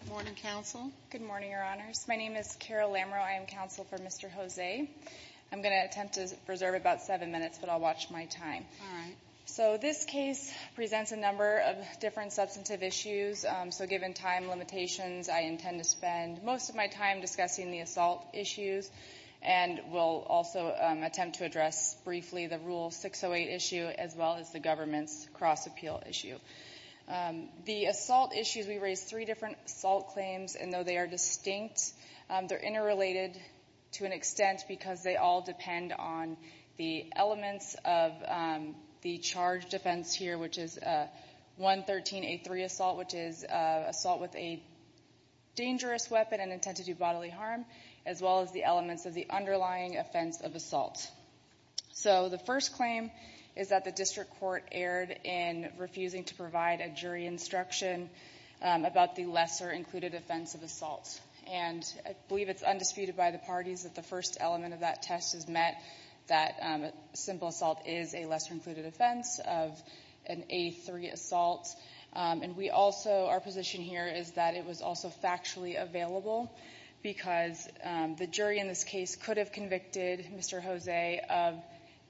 Good morning, Counsel. Good morning, Your Honors. My name is Carol Lamereau. I am Counsel for Mr. Jose. I'm going to attempt to preserve about seven minutes, but I'll watch my time. So this case presents a number of different substantive issues. So given time limitations, I intend to spend most of my time discussing the assault issues and will also attempt to address briefly the Rule 608 issue as well as the government's cross-appeal issue. The assault issues, we raised three different assault claims, and though they are distinct, they're interrelated to an extent because they all depend on the elements of the charge defense here, which is 113A3 assault, which is assault with a dangerous weapon and intent to do bodily harm, as well as the elements of the underlying offense of assault. So the first claim is that the district court erred in refusing to provide a jury instruction about the lesser-included offense of assault. And I believe it's undisputed by the parties that the first element of that test is met, that simple assault is a lesser-included offense of an A3 assault. And we also, our position here is that it was also factually available because the jury in this case could have convicted Mr. Jose of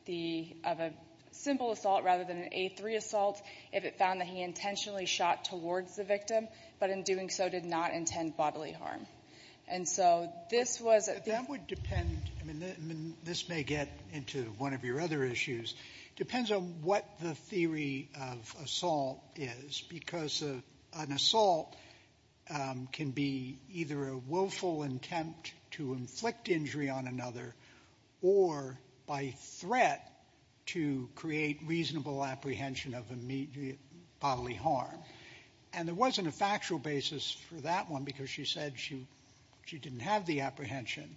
the, of a simple assault rather than an A3 assault if it found that he intentionally shot towards the victim, but in doing so did not intend bodily harm. And so this was a... I mean, this may get into one of your other issues. Depends on what the theory of assault is because an assault can be either a willful intent to inflict injury on another or by threat to create reasonable apprehension of immediate bodily harm. And there wasn't a factual basis for that one because she said she didn't have the apprehension.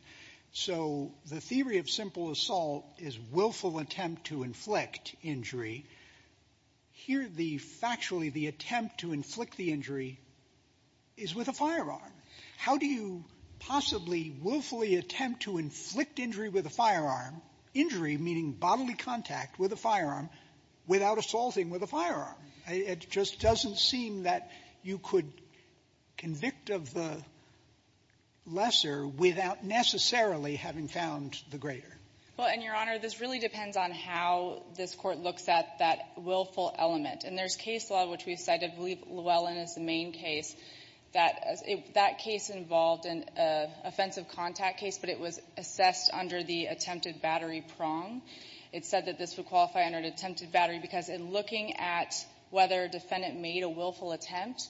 So the theory of simple assault is willful attempt to inflict injury. Here, the factually the attempt to inflict the injury is with a firearm. How do you possibly willfully attempt to inflict injury with a firearm? Injury meaning bodily contact with a firearm without assaulting with a firearm. It just doesn't seem that you could convict of the lesser without necessarily having found the greater. Well, and, Your Honor, this really depends on how this Court looks at that willful element. And there's case law which we cited, I believe Llewellyn is the main case, that that case involved an offensive contact case, but it was assessed under the attempted battery prong. It said that this would qualify under an attempted battery because in looking at whether a defendant made a willful attempt,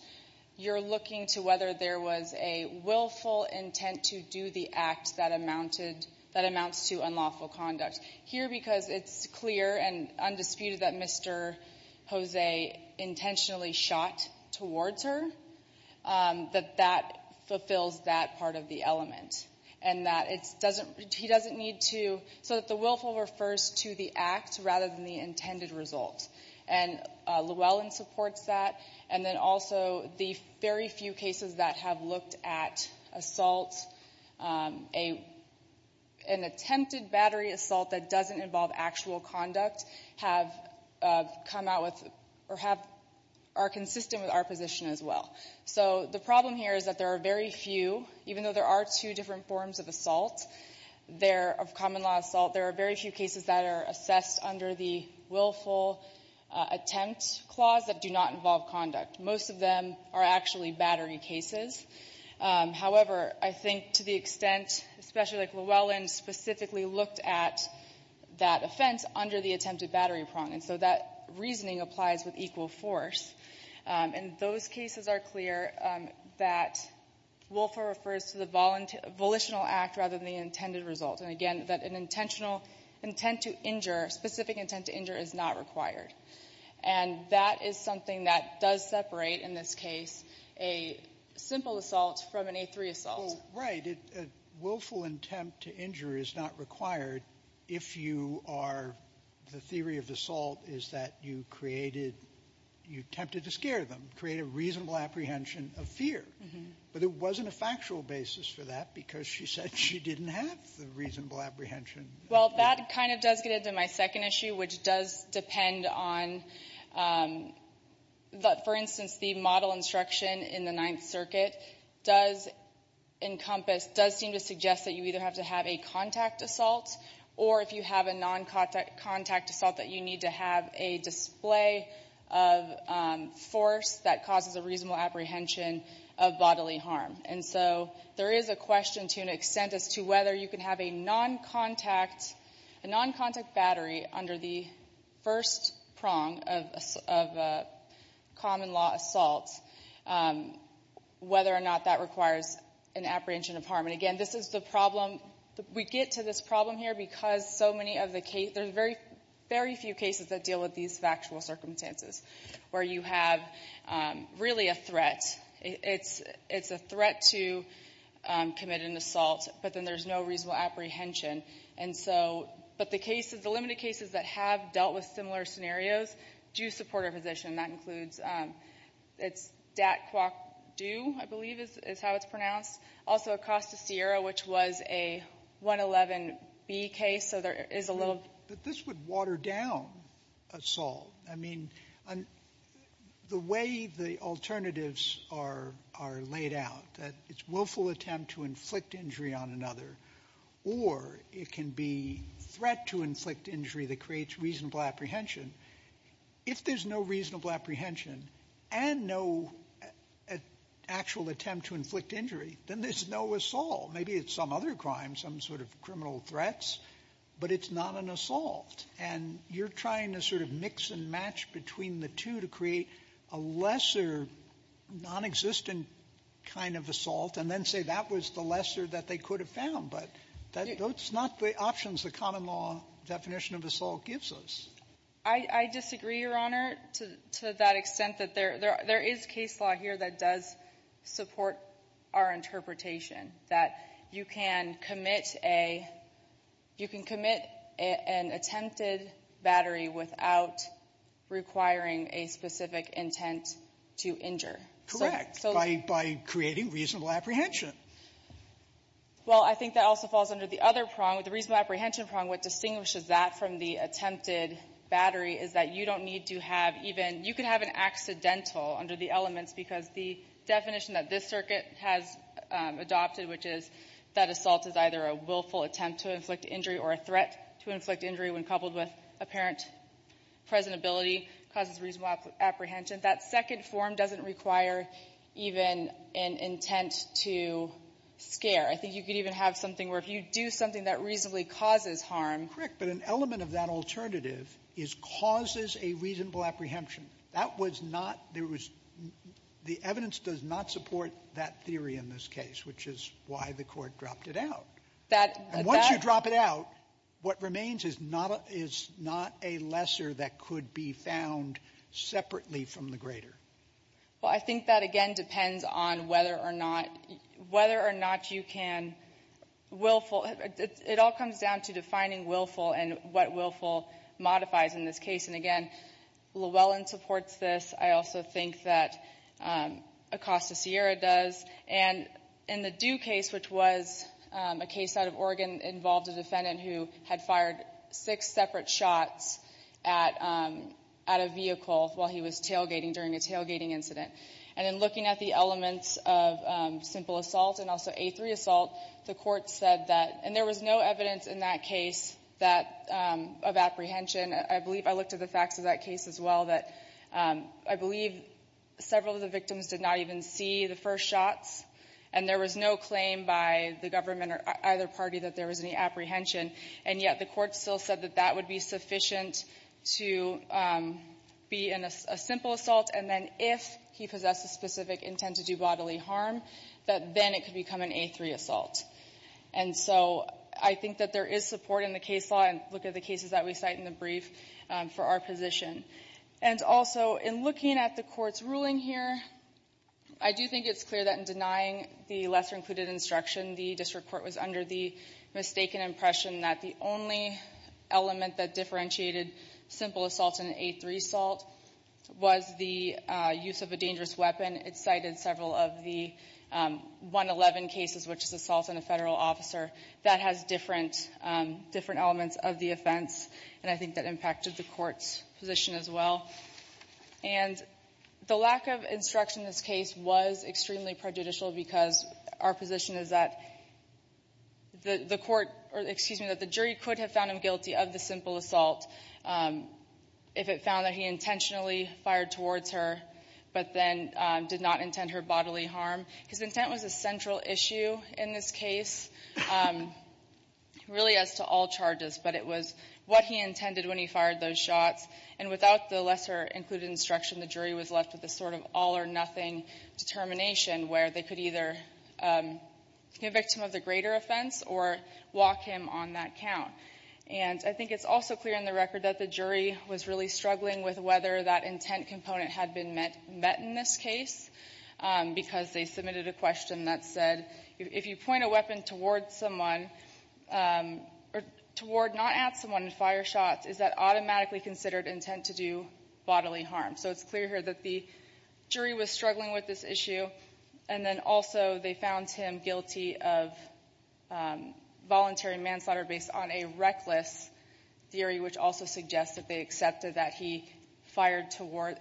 you're looking to whether there was a willful intent to do the act that amounted, that amounts to unlawful conduct. Here, because it's clear and undisputed that Mr. Jose intentionally shot towards her, that that fulfills that part of the element. And that it doesn't need to, so that the willful refers to the act rather than the intended result. And Llewellyn supports that. And then also the very few cases that have looked at assault, an attempted battery assault that doesn't involve actual conduct, have come out with, or have, are consistent with our position as well. So the problem here is that there are very few, even though there are two different forms of assault, there, of common law assault, there are very few cases that are assessed under the willful attempt clause that do not involve conduct. Most of them are actually battery cases. However, I think to the extent, especially like Llewellyn specifically looked at that offense under the attempted battery prong, and so that reasoning applies with equal force. And those cases are clear that willful refers to the volitional act rather than the intended result. And again, that an intentional intent to injure, specific intent to injure, is not required. And that is something that does separate, in this case, a simple assault from an A3 assault. Right. A willful attempt to injure is not required if you are, the theory of the assault is that you created, you attempted to scare them, create a reasonable apprehension of fear. But there wasn't a factual basis for that because she said she didn't have the reasonable apprehension. Well, that kind of does get into my second issue, which does depend on, for instance, the model instruction in the Ninth Circuit does encompass, does seem to suggest that you either have to have a contact assault, or if you have a non-contact contact assault, that you need to have a display of force that causes a reasonable apprehension of bodily harm. And so there is a question to an extent as to whether you can have a non-contact, a non-contact battery under the first prong of a common law assault, whether or not that requires an apprehension of harm. And again, this is the problem, we get to this problem here because so many of the cases, there's very few cases that deal with these factual circumstances, where you have really a threat. It's a threat to commit an assault, but then there's no reasonable apprehension. And so, but the cases, the limited cases that have dealt with similar scenarios do support our position. That includes, it's Dat-Kwok-Dew, I believe is how it's pronounced. Also Acosta-Sierra, which was a 111B case, so there is a little. But this would water down assault. I mean, the way the alternatives are laid out, that it's willful attempt to inflict injury on another, or it can be threat to inflict injury that creates reasonable apprehension. If there's no reasonable apprehension and no actual attempt to inflict injury, then there's no assault. Maybe it's some other crime, some sort of criminal threats, but it's not an assault. And you're trying to sort of mix and match between the two to create a lesser nonexistent kind of assault and then say that was the lesser that they could have found. But that's not the options the common law definition of assault gives us. I disagree, Your Honor, to that extent that there is case law here that does support our interpretation, that you can commit a you can commit an attempted battery without requiring a specific intent to injure. So that's so. Sotomayor, by creating reasonable apprehension. Well, I think that also falls under the other prong. The reasonable apprehension prong, what distinguishes that from the attempted battery is that you don't need to have even, you can have an accidental under the circumstances, because the definition that this circuit has adopted, which is that assault is either a willful attempt to inflict injury or a threat to inflict injury when coupled with apparent presentability causes reasonable apprehension. That second form doesn't require even an intent to scare. I think you could even have something where if you do something that reasonably causes harm. But an element of that alternative is causes a reasonable apprehension. That was not, there was, the evidence does not support that theory in this case, which is why the Court dropped it out. That, that. And once you drop it out, what remains is not a lesser that could be found separately from the greater. Well, I think that, again, depends on whether or not, whether or not you can willful it all comes down to defining willful and what willful modifies in this case. And again, Llewellyn supports this. I also think that Acosta-Sierra does. And in the Due case, which was a case out of Oregon, involved a defendant who had fired six separate shots at a vehicle while he was tailgating during a tailgating incident. And in looking at the elements of simple assault and also A3 assault, the Court said that, and there was no evidence in that case that, of apprehension. I believe I looked at the facts of that case as well, that I believe several of the victims did not even see the first shots. And there was no claim by the government or either party that there was any apprehension. And yet the Court still said that that would be sufficient to be a simple assault. And then if he possessed a specific intent to do bodily harm, that then it could become an A3 assault. And so I think that there is support in the case law. Again, look at the cases that we cite in the brief for our position. And also, in looking at the Court's ruling here, I do think it's clear that in denying the lesser included instruction, the district court was under the mistaken impression that the only element that differentiated simple assault and A3 assault was the use of a dangerous weapon. It cited several of the 111 cases, which is assault on a federal officer. That has different elements of the offense, and I think that impacted the Court's position as well. And the lack of instruction in this case was extremely prejudicial because our position is that the court, or excuse me, that the jury could have found him guilty of the simple assault if it found that he intentionally fired towards her, but then did not intend her bodily harm. His intent was a central issue in this case. Really as to all charges, but it was what he intended when he fired those shots. And without the lesser included instruction, the jury was left with this sort of all or nothing determination where they could either convict him of the greater offense or walk him on that count. And I think it's also clear in the record that the jury was really struggling with whether that intent component had been met in this case because they submitted a question that said, if you point a weapon toward someone, or toward not at someone and fire shots, is that automatically considered intent to do bodily harm? So it's clear here that the jury was struggling with this issue, and then also they found him guilty of voluntary manslaughter based on a reckless theory, which also suggests that they accepted that he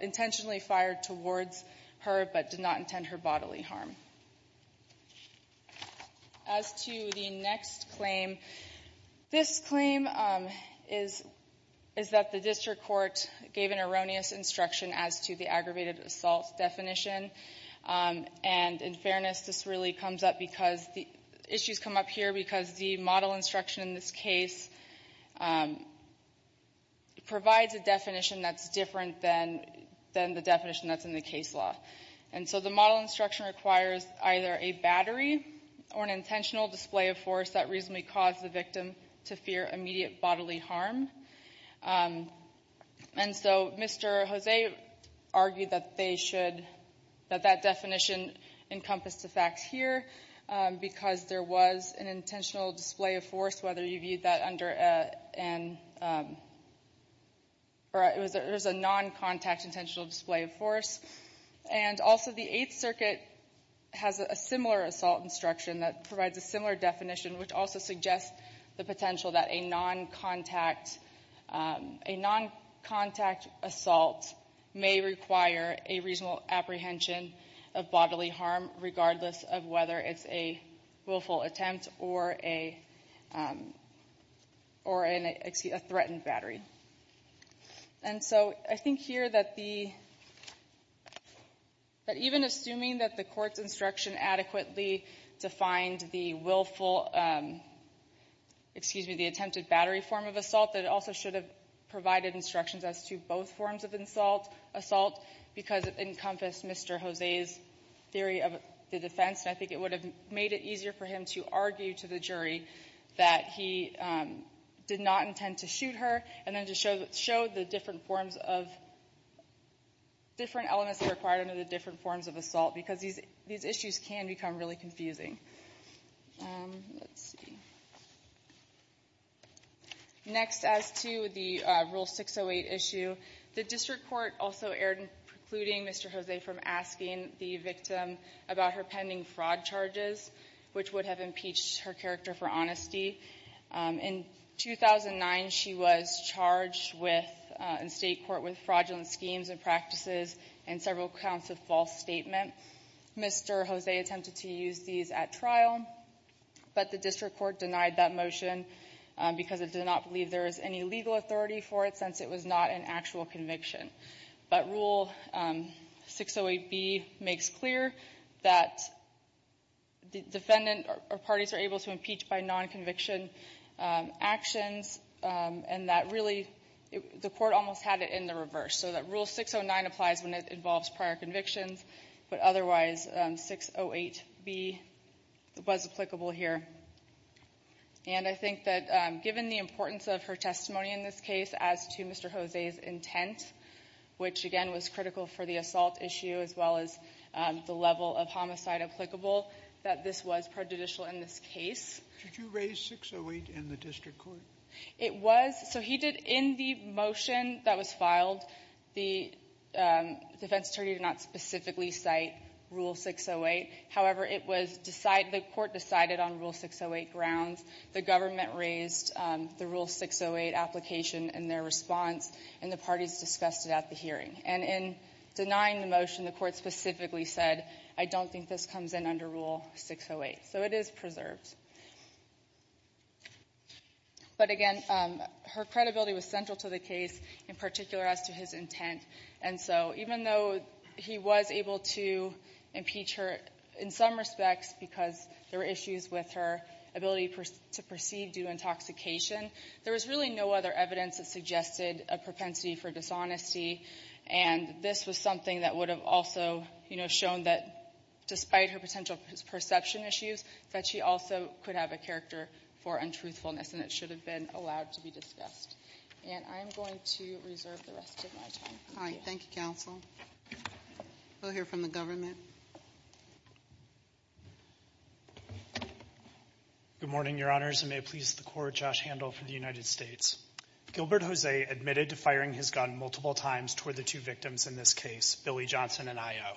intentionally fired towards her but did not intend her bodily harm. As to the next claim, this claim is that the district court gave an erroneous instruction as to the aggravated assault definition. And in fairness, this really comes up because the issues come up here because the model instruction in this case provides a definition that's different than the definition that's in the case law. And so the model instruction requires either a battery or an intentional display of force that reasonably caused the victim to fear immediate bodily harm. And so Mr. Jose argued that they should, that that definition encompassed the facts here because there was an intentional display of force, whether you viewed that under an, or it was a non-contact intentional display of force. And also the Eighth Circuit has a similar assault instruction that provides a similar definition, which also suggests the potential that a non-contact, a non-contact assault may require a reasonable apprehension of bodily harm regardless of whether it's a willful attempt or a, or an, excuse me, a threatened battery. And so I think here that the, that even assuming that the court's instruction adequately defined the willful, excuse me, the attempted battery form of assault, that it also should have provided instructions as to both forms of assault because it encompassed Mr. Jose's theory of the defense. And I think it would have made it easier for him to argue to the jury that he did not intend to shoot her and then to show the different forms of, different elements that are required under the different forms of assault because these, these issues can become really confusing. Let's see. Next, as to the Rule 608 issue, the district court also erred in precluding Mr. Jose from asking the victim about her pending fraud charges, which would have impeached her character for honesty. In 2009, she was charged with, in state court, with fraudulent schemes and practices and several counts of false statement. Mr. Jose attempted to use these at trial, but the district court denied that motion because it did not believe there was any legal authority for it since it was not an actual conviction. But Rule 608B makes clear that the defendant or parties are able to impeach by non-conviction actions and that really, the court almost had it in the reverse, so that Rule 609 applies when it involves prior convictions. But otherwise, 608B was applicable here. And I think that given the importance of her testimony in this case as to Mr. Jose's intent, which again was critical for the assault issue as well as the level of homicide applicable, that this was prejudicial in this case. Did you raise 608 in the district court? It was, so he did in the motion that was filed, the defense attorney did not specifically cite Rule 608. However, it was decided, the court decided on Rule 608 grounds. The government raised the Rule 608 application and their response, and the parties discussed it at the hearing. And in denying the motion, the court specifically said, I don't think this comes in under Rule 608, so it is preserved. But again, her credibility was central to the case, in particular as to his intent. And so even though he was able to impeach her in some respects, because there were issues with her ability to proceed due to intoxication, there was really no other evidence that suggested a propensity for dishonesty. And this was something that would have also shown that despite her potential perception issues, that she also could have a character for untruthfulness, and it should have been allowed to be discussed. And I'm going to reserve the rest of my time. All right, thank you, counsel. We'll hear from the government. Good morning, your honors, and may it please the court, Josh Handel for the United States. Gilbert Jose admitted to firing his gun multiple times toward the two victims in this case, Billy Johnson and IO.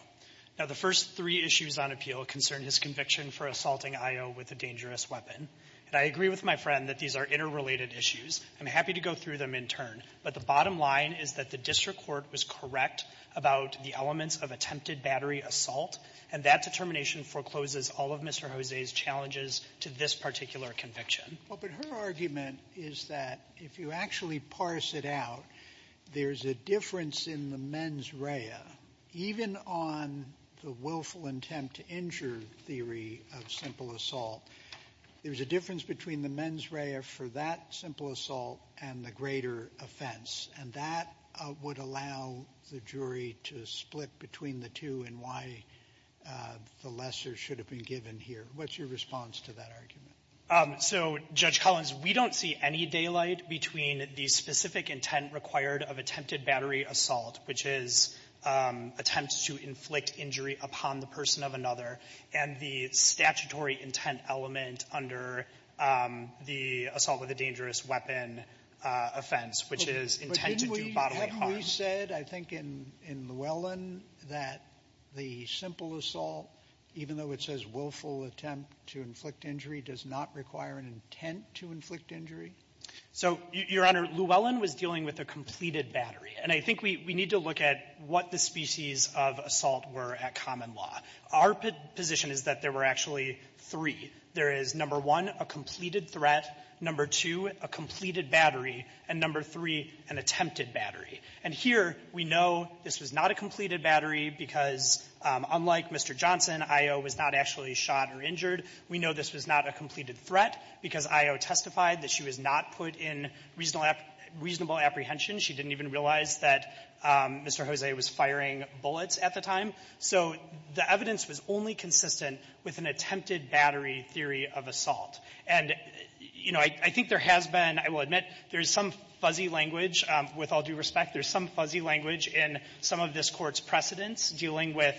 Now the first three issues on appeal concern his conviction for assaulting IO with a dangerous weapon. And I agree with my friend that these are interrelated issues. I'm happy to go through them in turn. But the bottom line is that the district court was correct about the elements of attempted battery assault. And that determination forecloses all of Mr. Jose's challenges to this particular conviction. Well, but her argument is that if you actually parse it out, there's a difference in the mens rea. Even on the willful attempt to injure theory of simple assault, there's a difference between the mens rea for that simple assault and the greater offense. And that would allow the jury to split between the two and why the lesser should have been given here. What's your response to that argument? So, Judge Collins, we don't see any daylight between the specific intent required of attempted battery assault, which is attempts to inflict injury upon the person of another, and the statutory intent element under the assault with a dangerous weapon offense, which is intent to do bodily harm. But haven't we said, I think in Llewellyn, that the simple assault, even though it says willful attempt to inflict injury, does not require an intent to inflict injury? So, Your Honor, Llewellyn was dealing with a completed battery. And I think we need to look at what the species of assault were at common law. Our position is that there were actually three. There is, number one, a completed threat, number two, a completed battery, and number three, an attempted battery. And here, we know this was not a completed battery because unlike Mr. Johnson, IO was not actually shot or injured. We know this was not a completed threat because IO testified that she was not put in reasonable apprehension. She didn't even realize that Mr. Jose was firing bullets at the time. So the evidence was only consistent with an attempted battery theory of assault. And, you know, I think there has been, I will admit, there's some fuzzy language, with all due respect. There's some fuzzy language in some of this Court's precedents dealing with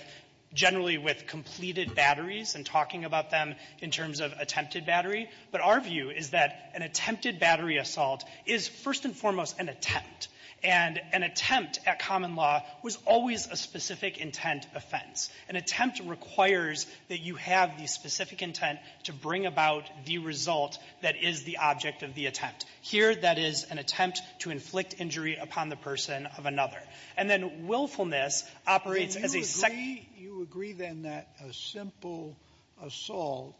generally with completed batteries and talking about them in terms of attempted battery. But our view is that an attempted battery assault is first and foremost an attempt. And an attempt at common law was always a specific intent offense. An attempt requires that you have the specific intent to bring about the result that is the object of the attempt. Here, that is an attempt to inflict injury upon the person of another. And then willfulness operates as a second — Do you agree, then, that a simple assault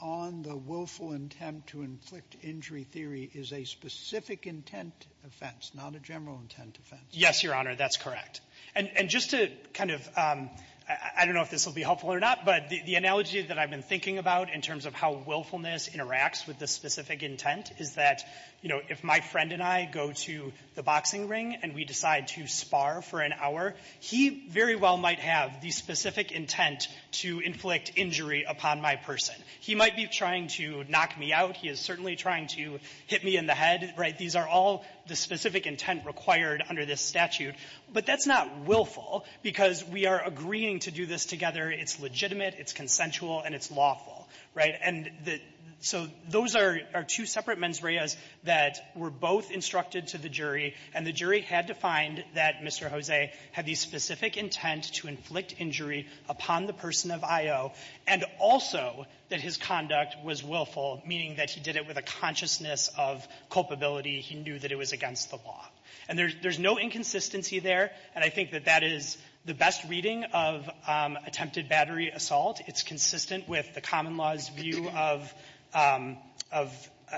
on the willful intent to inflict injury theory is a specific intent offense, not a general intent offense? Yes, Your Honor, that's correct. And just to kind of — I don't know if this will be helpful or not, but the analogy that I've been thinking about in terms of how willfulness interacts with the specific intent is that, you know, if my friend and I go to the boxing ring and we decide to spar for an hour, he very well might have the specific intent to inflict injury upon my person. He might be trying to knock me out. He is certainly trying to hit me in the head, right? These are all the specific intent required under this statute. But that's not willful, because we are agreeing to do this together. It's legitimate, it's consensual, and it's lawful, right? And the — so those are two separate mens reas that were both instructed to the jury. And the jury had to find that Mr. Jose had the specific intent to inflict injury upon the person of Ayo, and also that his conduct was willful, meaning that he did it with a consciousness of culpability. He knew that it was against the law. And there's no inconsistency there. And I think that that is the best reading of attempted battery assault. It's consistent with the common law's view of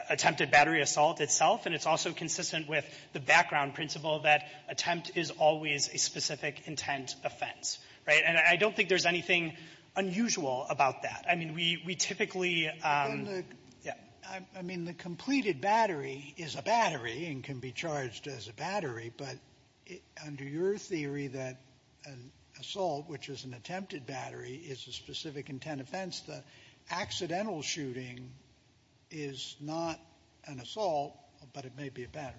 attempted battery assault itself. And it's also consistent with the background principle that attempt is always a specific intent offense, right? And I don't think there's anything unusual about that. I mean, we typically — I mean, the completed battery is a battery and can be charged as a battery. But under your theory that an assault, which is an attempted battery, is a specific intent offense, the accidental shooting is not an assault, but it may be a battery.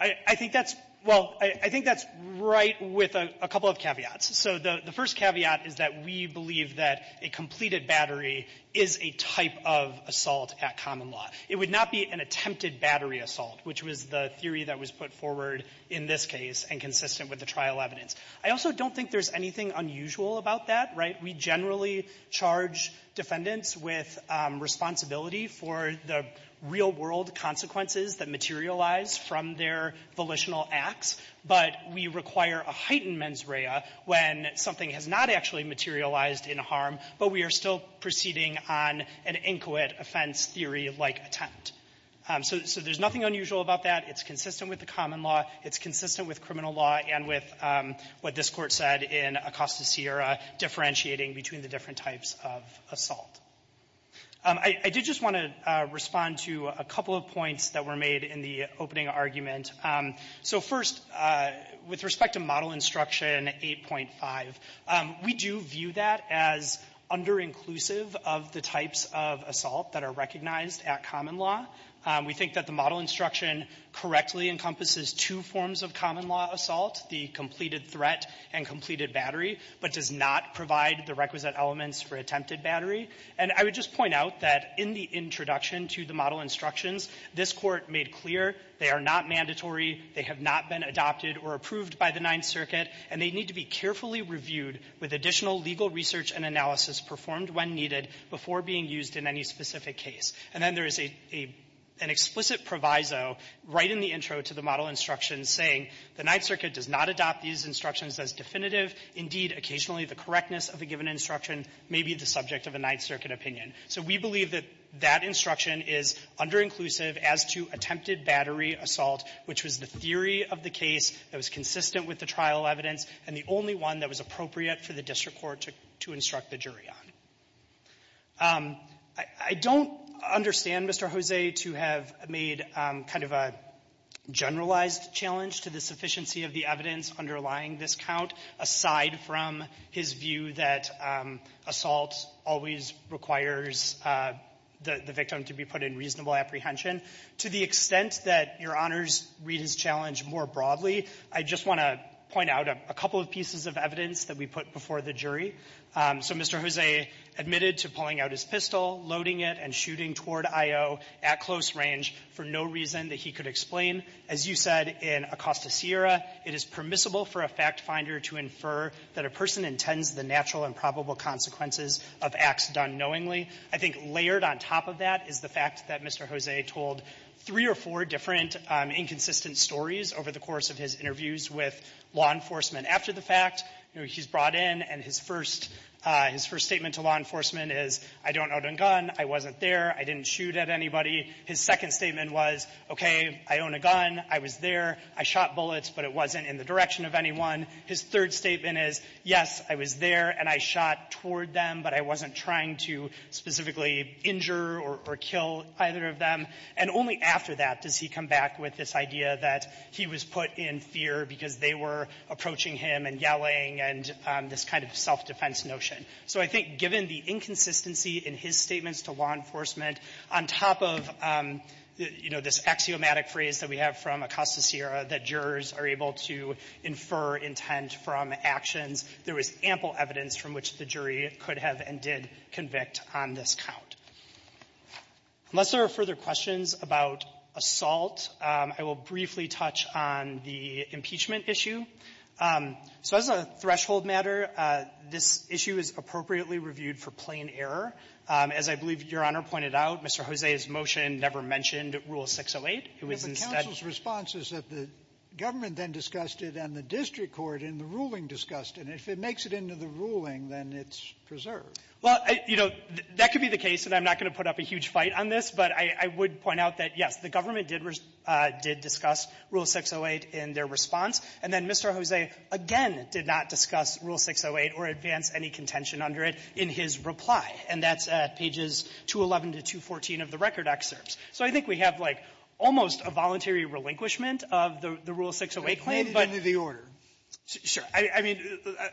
I think that's — well, I think that's right with a couple of caveats. So the first caveat is that we believe that a completed battery is a type of assault at common law. It would not be an attempted battery assault, which was the theory that was put forward in this case and consistent with the trial evidence. I also don't think there's anything unusual about that, right? We generally charge defendants with responsibility for the real-world consequences that materialize from their volitional acts. But we require a heightened mens rea when something has not actually materialized in harm, but we are still proceeding on an inquit offense theory-like attempt. So there's nothing unusual about that. It's consistent with the common law. It's consistent with criminal law and with what this Court said in Acosta Sierra, differentiating between the different types of assault. I did just want to respond to a couple of points that were made in the opening argument. So first, with respect to Model Instruction 8.5, we do view that as under-inclusive of the types of assault that are recognized at common law. We think that the Model Instruction correctly encompasses two forms of common law assault, the completed threat and completed battery, but does not provide the requisite elements for attempted battery. And I would just point out that in the introduction to the Model Instructions, this Court made clear they are not mandatory, they have not been adopted or approved by the Ninth Circuit, and they need to be carefully reviewed with additional legal research and analysis performed when needed before being used in any specific case. And then there is an explicit proviso right in the intro to the Model Instructions saying the Ninth Circuit does not adopt these instructions as definitive. Indeed, occasionally the correctness of a given instruction may be the subject of a Ninth Circuit opinion. So we believe that that instruction is under-inclusive as to attempted battery assault, which was the theory of the case that was consistent with the trial evidence and the only one that was appropriate for the district court to instruct the jury on. I don't understand Mr. Jose to have made kind of a generalized challenge to the sufficiency of the evidence underlying this count, aside from his view that assault always requires the victim to be put in reasonable apprehension. To the extent that Your Honors read his challenge more broadly, I just want to point out a couple of pieces of evidence that we put before the jury. So Mr. Jose admitted to pulling out his pistol, loading it, and shooting toward I.O. at close range for no reason that he could explain. As you said in Acosta Sierra, it is permissible for a factfinder to infer that a person intends the natural and probable consequences of acts done knowingly. I think layered on top of that is the fact that Mr. Jose told three or four different inconsistent stories over the course of his interviews with law enforcement. After the fact, you know, he's brought in, and his first — his first statement to law enforcement is, I don't own a gun, I wasn't there, I didn't shoot at anybody. His second statement was, okay, I own a gun, I was there, I shot bullets, but it wasn't in the direction of anyone. His third statement is, yes, I was there, and I shot toward them, but I wasn't trying to specifically injure or kill either of them. And only after that does he come back with this idea that he was put in fear because they were approaching him and yelling and this kind of self-defense notion. So I think given the inconsistency in his statements to law enforcement, on top of, you know, this axiomatic phrase that we have from Acosta Sierra that jurors are able to infer intent from actions, there was ample evidence from which the jury could have and did convict on this count. Unless there are further questions about assault, I will briefly touch on the impeachment issue. So as a threshold matter, this issue is appropriately reviewed for plain error. As I believe Your Honor pointed out, Mr. Jose's motion never mentioned Rule 608. It was instead — And the district court in the ruling discussed it. And if it makes it into the ruling, then it's preserved. Well, you know, that could be the case, and I'm not going to put up a huge fight on this, but I would point out that, yes, the government did discuss Rule 608 in their response. And then Mr. Jose, again, did not discuss Rule 608 or advance any contention under it in his reply, and that's at pages 211 to 214 of the record excerpts. So I think we have, like, almost a voluntary relinquishment of the Rule 608 claim. But it made it into the order. Sure. I mean,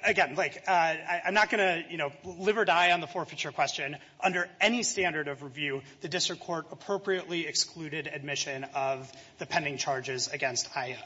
again, like, I'm not going to, you know, live or die on the forfeiture question. Under any standard of review, the district court appropriately excluded admission of the pending charges against IO.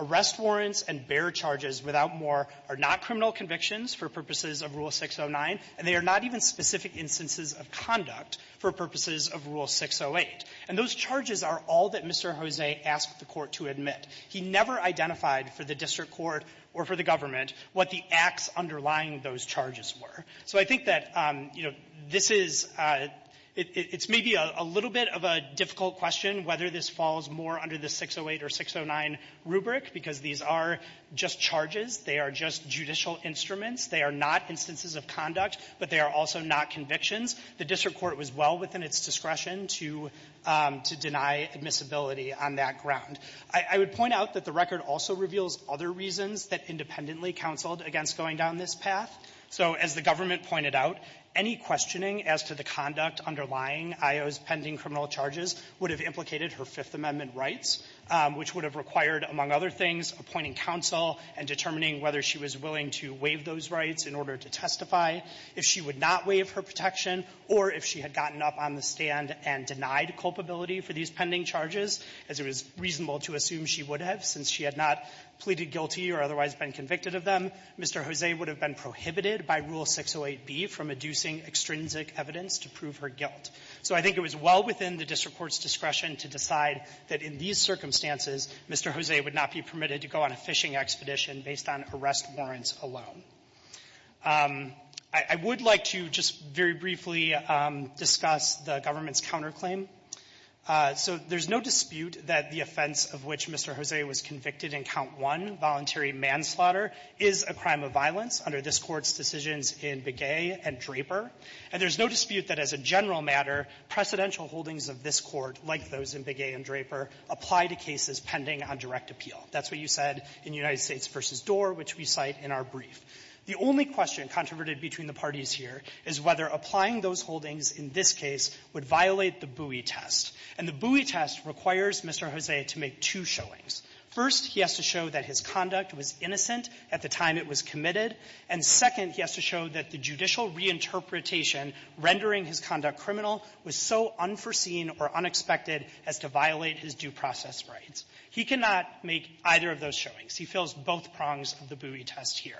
Arrest warrants and bear charges, without more, are not criminal convictions for purposes of Rule 609, and they are not even specific instances of conduct for purposes of Rule 608. And those charges are all that Mr. Jose asked the Court to admit. He never identified for the district court or for the government what the acts underlying those charges were. So I think that, you know, this is – it's maybe a little bit of a difficult question whether this falls more under the 608 or 609 rubric, because these are just charges. They are just judicial instruments. They are not instances of conduct, but they are also not convictions. The district court was well within its discretion to – to deny admissibility on that ground. I would point out that the record also reveals other reasons that independently counseled against going down this path. So as the government pointed out, any questioning as to the conduct underlying IO's pending criminal charges would have implicated her Fifth Amendment rights, which would have required, among other things, appointing counsel and determining whether she was willing to waive those rights in order to testify. If she would not waive her protection or if she had gotten up on the stand and denied culpability for these pending charges, as it was reasonable to assume she would have since she had not pleaded guilty or otherwise been convicted of them, Mr. Jose would have been prohibited by Rule 608b from adducing extrinsic evidence to prove her guilt. So I think it was well within the district court's discretion to decide that in these circumstances, Mr. Jose would not be permitted to go on a fishing expedition based on arrest warrants alone. I would like to just very briefly discuss the government's counterclaim. So there's no dispute that the offense of which Mr. Jose was convicted in Count I, voluntary manslaughter, is a crime of violence under this Court's decisions in Begay and Draper. And there's no dispute that as a general matter, precedential holdings of this Court, like those in Begay and Draper, apply to cases pending on direct appeal. That's what you said in United States v. Doar, which we cite in our brief. The only question controverted between the parties here is whether applying those holdings in this case would violate the Bowie test. And the Bowie test requires Mr. Jose to make two showings. First, he has to show that his conduct was innocent at the time it was committed. And second, he has to show that the judicial reinterpretation rendering his conduct criminal was so unforeseen or unexpected as to violate his due process rights. He cannot make either of those showings. He fills both prongs of the Bowie test here.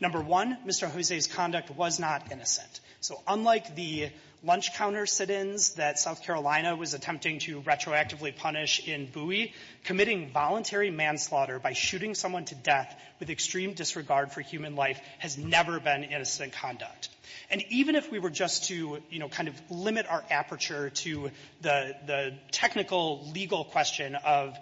Number one, Mr. Jose's conduct was not innocent. So unlike the lunch counter sit-ins that South Carolina was attempting to retroactively punish in Bowie, committing voluntary manslaughter by shooting someone to death with extreme disregard for human conduct. And even if we were just to, you know, kind of limit our aperture to the technical legal question of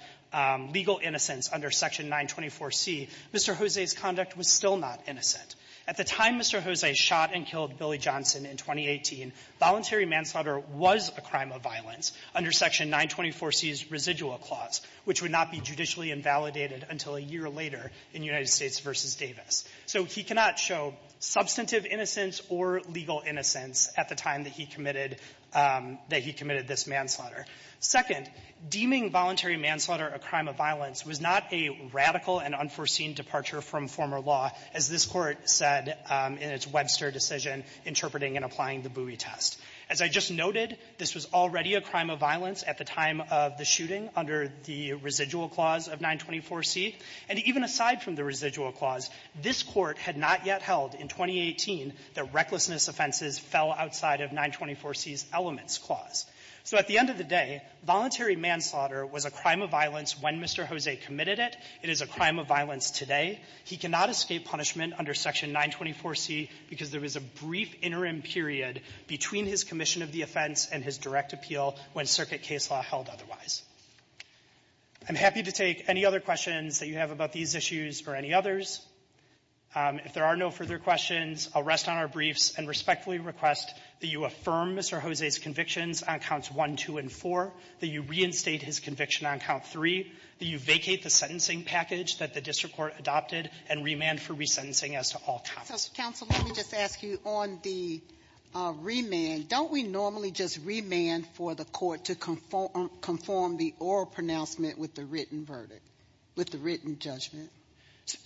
legal innocence under Section 924C, Mr. Jose's conduct was still not innocent. At the time Mr. Jose shot and killed Billy Johnson in 2018, voluntary manslaughter was a crime of violence under Section 924C's residual clause, which would not be judicially invalidated until a year later in United or legal innocence at the time that he committed this manslaughter. Second, deeming voluntary manslaughter a crime of violence was not a radical and unforeseen departure from former law, as this Court said in its Webster decision interpreting and applying the Bowie test. As I just noted, this was already a crime of violence at the time of the shooting under the residual clause of 924C. And even aside from the residual clause, this Court had not yet held in 2018 that recklessness offenses fell outside of 924C's elements clause. So at the end of the day, voluntary manslaughter was a crime of violence when Mr. Jose committed it. It is a crime of violence today. He cannot escape punishment under Section 924C because there was a brief interim period between his commission of the offense and his direct appeal when circuit case law held otherwise. I'm happy to take any other questions that you have about these issues or any others. If there are no further questions, I'll rest on our briefs and respectfully request that you affirm Mr. Jose's convictions on Counts 1, 2, and 4, that you reinstate his conviction on Count 3, that you vacate the sentencing package that the district court adopted, and remand for resentencing as to all counts. Sotomayor, let me just ask you, on the remand, don't we normally just remand for the court to conform the oral pronouncement with the written verdict, with the written judgment?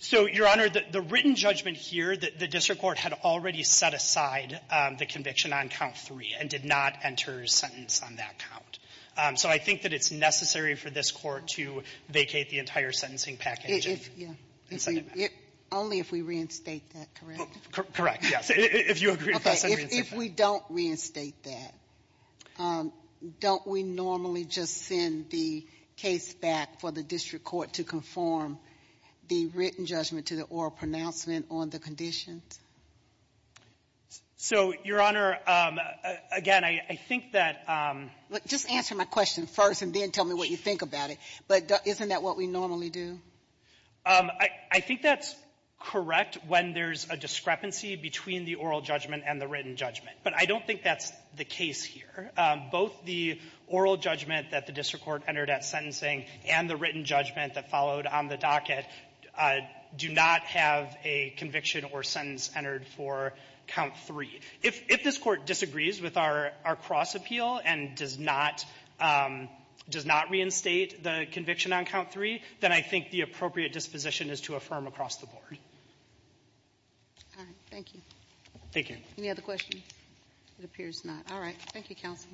So, Your Honor, the written judgment here, the district court had already set aside the conviction on Count 3 and did not enter a sentence on that count. So I think that it's necessary for this Court to vacate the entire sentencing package. Yeah. And send it back. Only if we reinstate that, correct? Correct, yes. If you agree to pass a reinstatement. If we don't reinstate that, don't we normally just send the case back for the district court to conform the written judgment to the oral pronouncement on the conditions? So, Your Honor, again, I think that — Just answer my question first and then tell me what you think about it. But isn't that what we normally do? I think that's correct when there's a discrepancy between the oral judgment and the written judgment. But I don't think that's the case here. Both the oral judgment that the district court entered at sentencing and the written judgment that followed on the docket do not have a conviction or sentence entered for Count 3. If this Court disagrees with our cross-appeal and does not — does not reinstate the conviction on Count 3, then I think the appropriate disposition is to affirm across the board. All right. Thank you. Thank you. Any other questions? It appears not. All right. Thank you, counsel.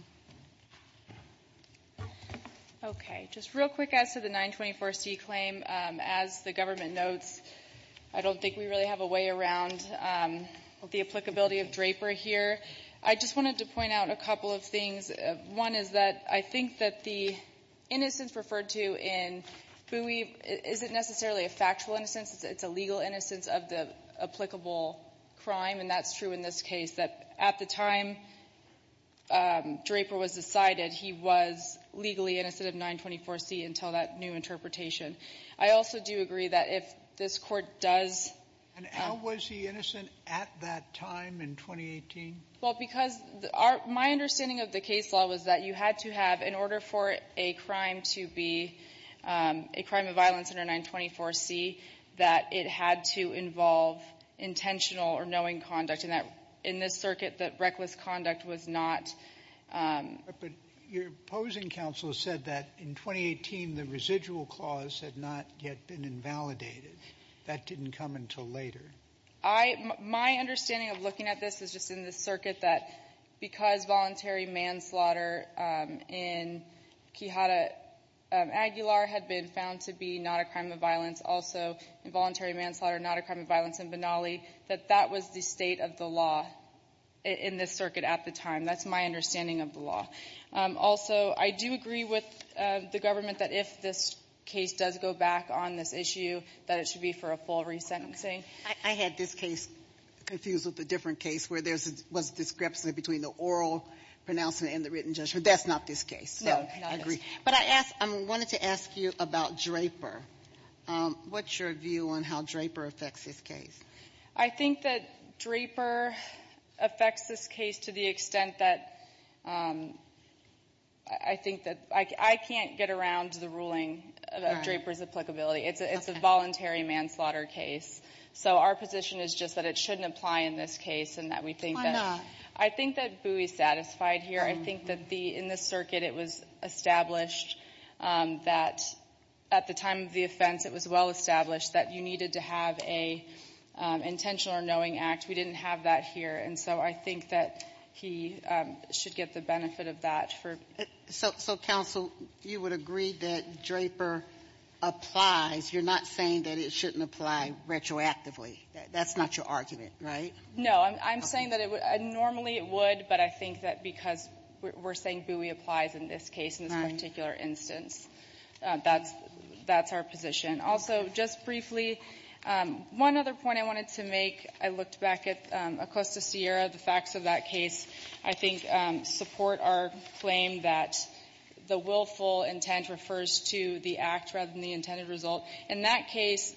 Okay. Just real quick as to the 924C claim, as the government notes, I don't think we really have a way around the applicability of Draper here. I just wanted to point out a couple of things. One is that I think that the innocence referred to in Bui isn't necessarily a factual innocence. It's a legal innocence of the applicable crime. And that's true in this case, that at the time Draper was decided, he was legally innocent of 924C until that new interpretation. I also do agree that if this Court does — And how was he innocent at that time in 2018? Well, because our — my understanding of the case law was that you had to have, in that it had to involve intentional or knowing conduct in this circuit that reckless conduct was not — But your opposing counsel said that in 2018 the residual clause had not yet been invalidated. That didn't come until later. I — my understanding of looking at this is just in the circuit that because voluntary manslaughter in Quijada Aguilar had been found to be not a crime of violence, also involuntary manslaughter not a crime of violence in Benali, that that was the state of the law in this circuit at the time. That's my understanding of the law. Also, I do agree with the government that if this case does go back on this issue, that it should be for a full resentencing. I had this case confused with a different case where there was a discrepancy between the oral pronouncement and the written judgment. That's not this case. No, not this. But I asked — I wanted to ask you about Draper. What's your view on how Draper affects this case? I think that Draper affects this case to the extent that — I think that — I can't get around the ruling about Draper's applicability. It's a voluntary manslaughter case. So our position is just that it shouldn't apply in this case and that we think that — I think that Booey's satisfied here. I think that the — in this circuit, it was established that at the time of the offense, it was well established that you needed to have an intentional or knowing act. We didn't have that here. And so I think that he should get the benefit of that for — So, Counsel, you would agree that Draper applies. You're not saying that it shouldn't apply retroactively. That's not your argument, right? No. I'm saying that it would — normally, it would, but I think that because we're saying Booey applies in this case, in this particular instance, that's our position. Also, just briefly, one other point I wanted to make, I looked back at Acosta-Sierra, the facts of that case, I think support our claim that the willful intent refers to the act rather than the intended result. In that case,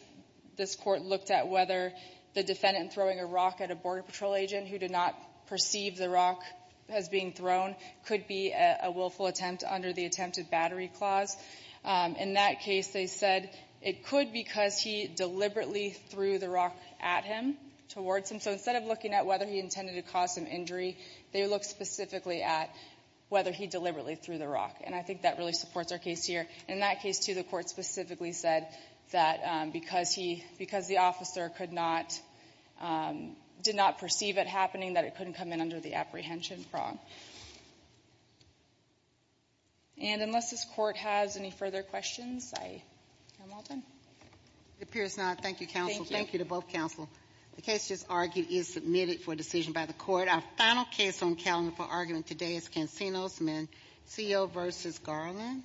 this Court looked at whether the defendant throwing a rock at a Border Patrol agent who did not perceive the rock as being thrown could be a willful attempt under the attempted battery clause. In that case, they said it could because he deliberately threw the rock at him, towards him. So instead of looking at whether he intended to cause some injury, they looked specifically at whether he deliberately threw the rock. And I think that really supports our case here. In that case, too, the Court specifically said that because he — because the officer could not — did not perceive it happening, that it couldn't come in under the apprehension prong. And unless this Court has any further questions, I'm all done. It appears not. Thank you, counsel. Thank you to both counsel. The case just argued is submitted for decision by the Court. Our final case on the calendar for argument today is Cansinos v. Mencio v. Garland.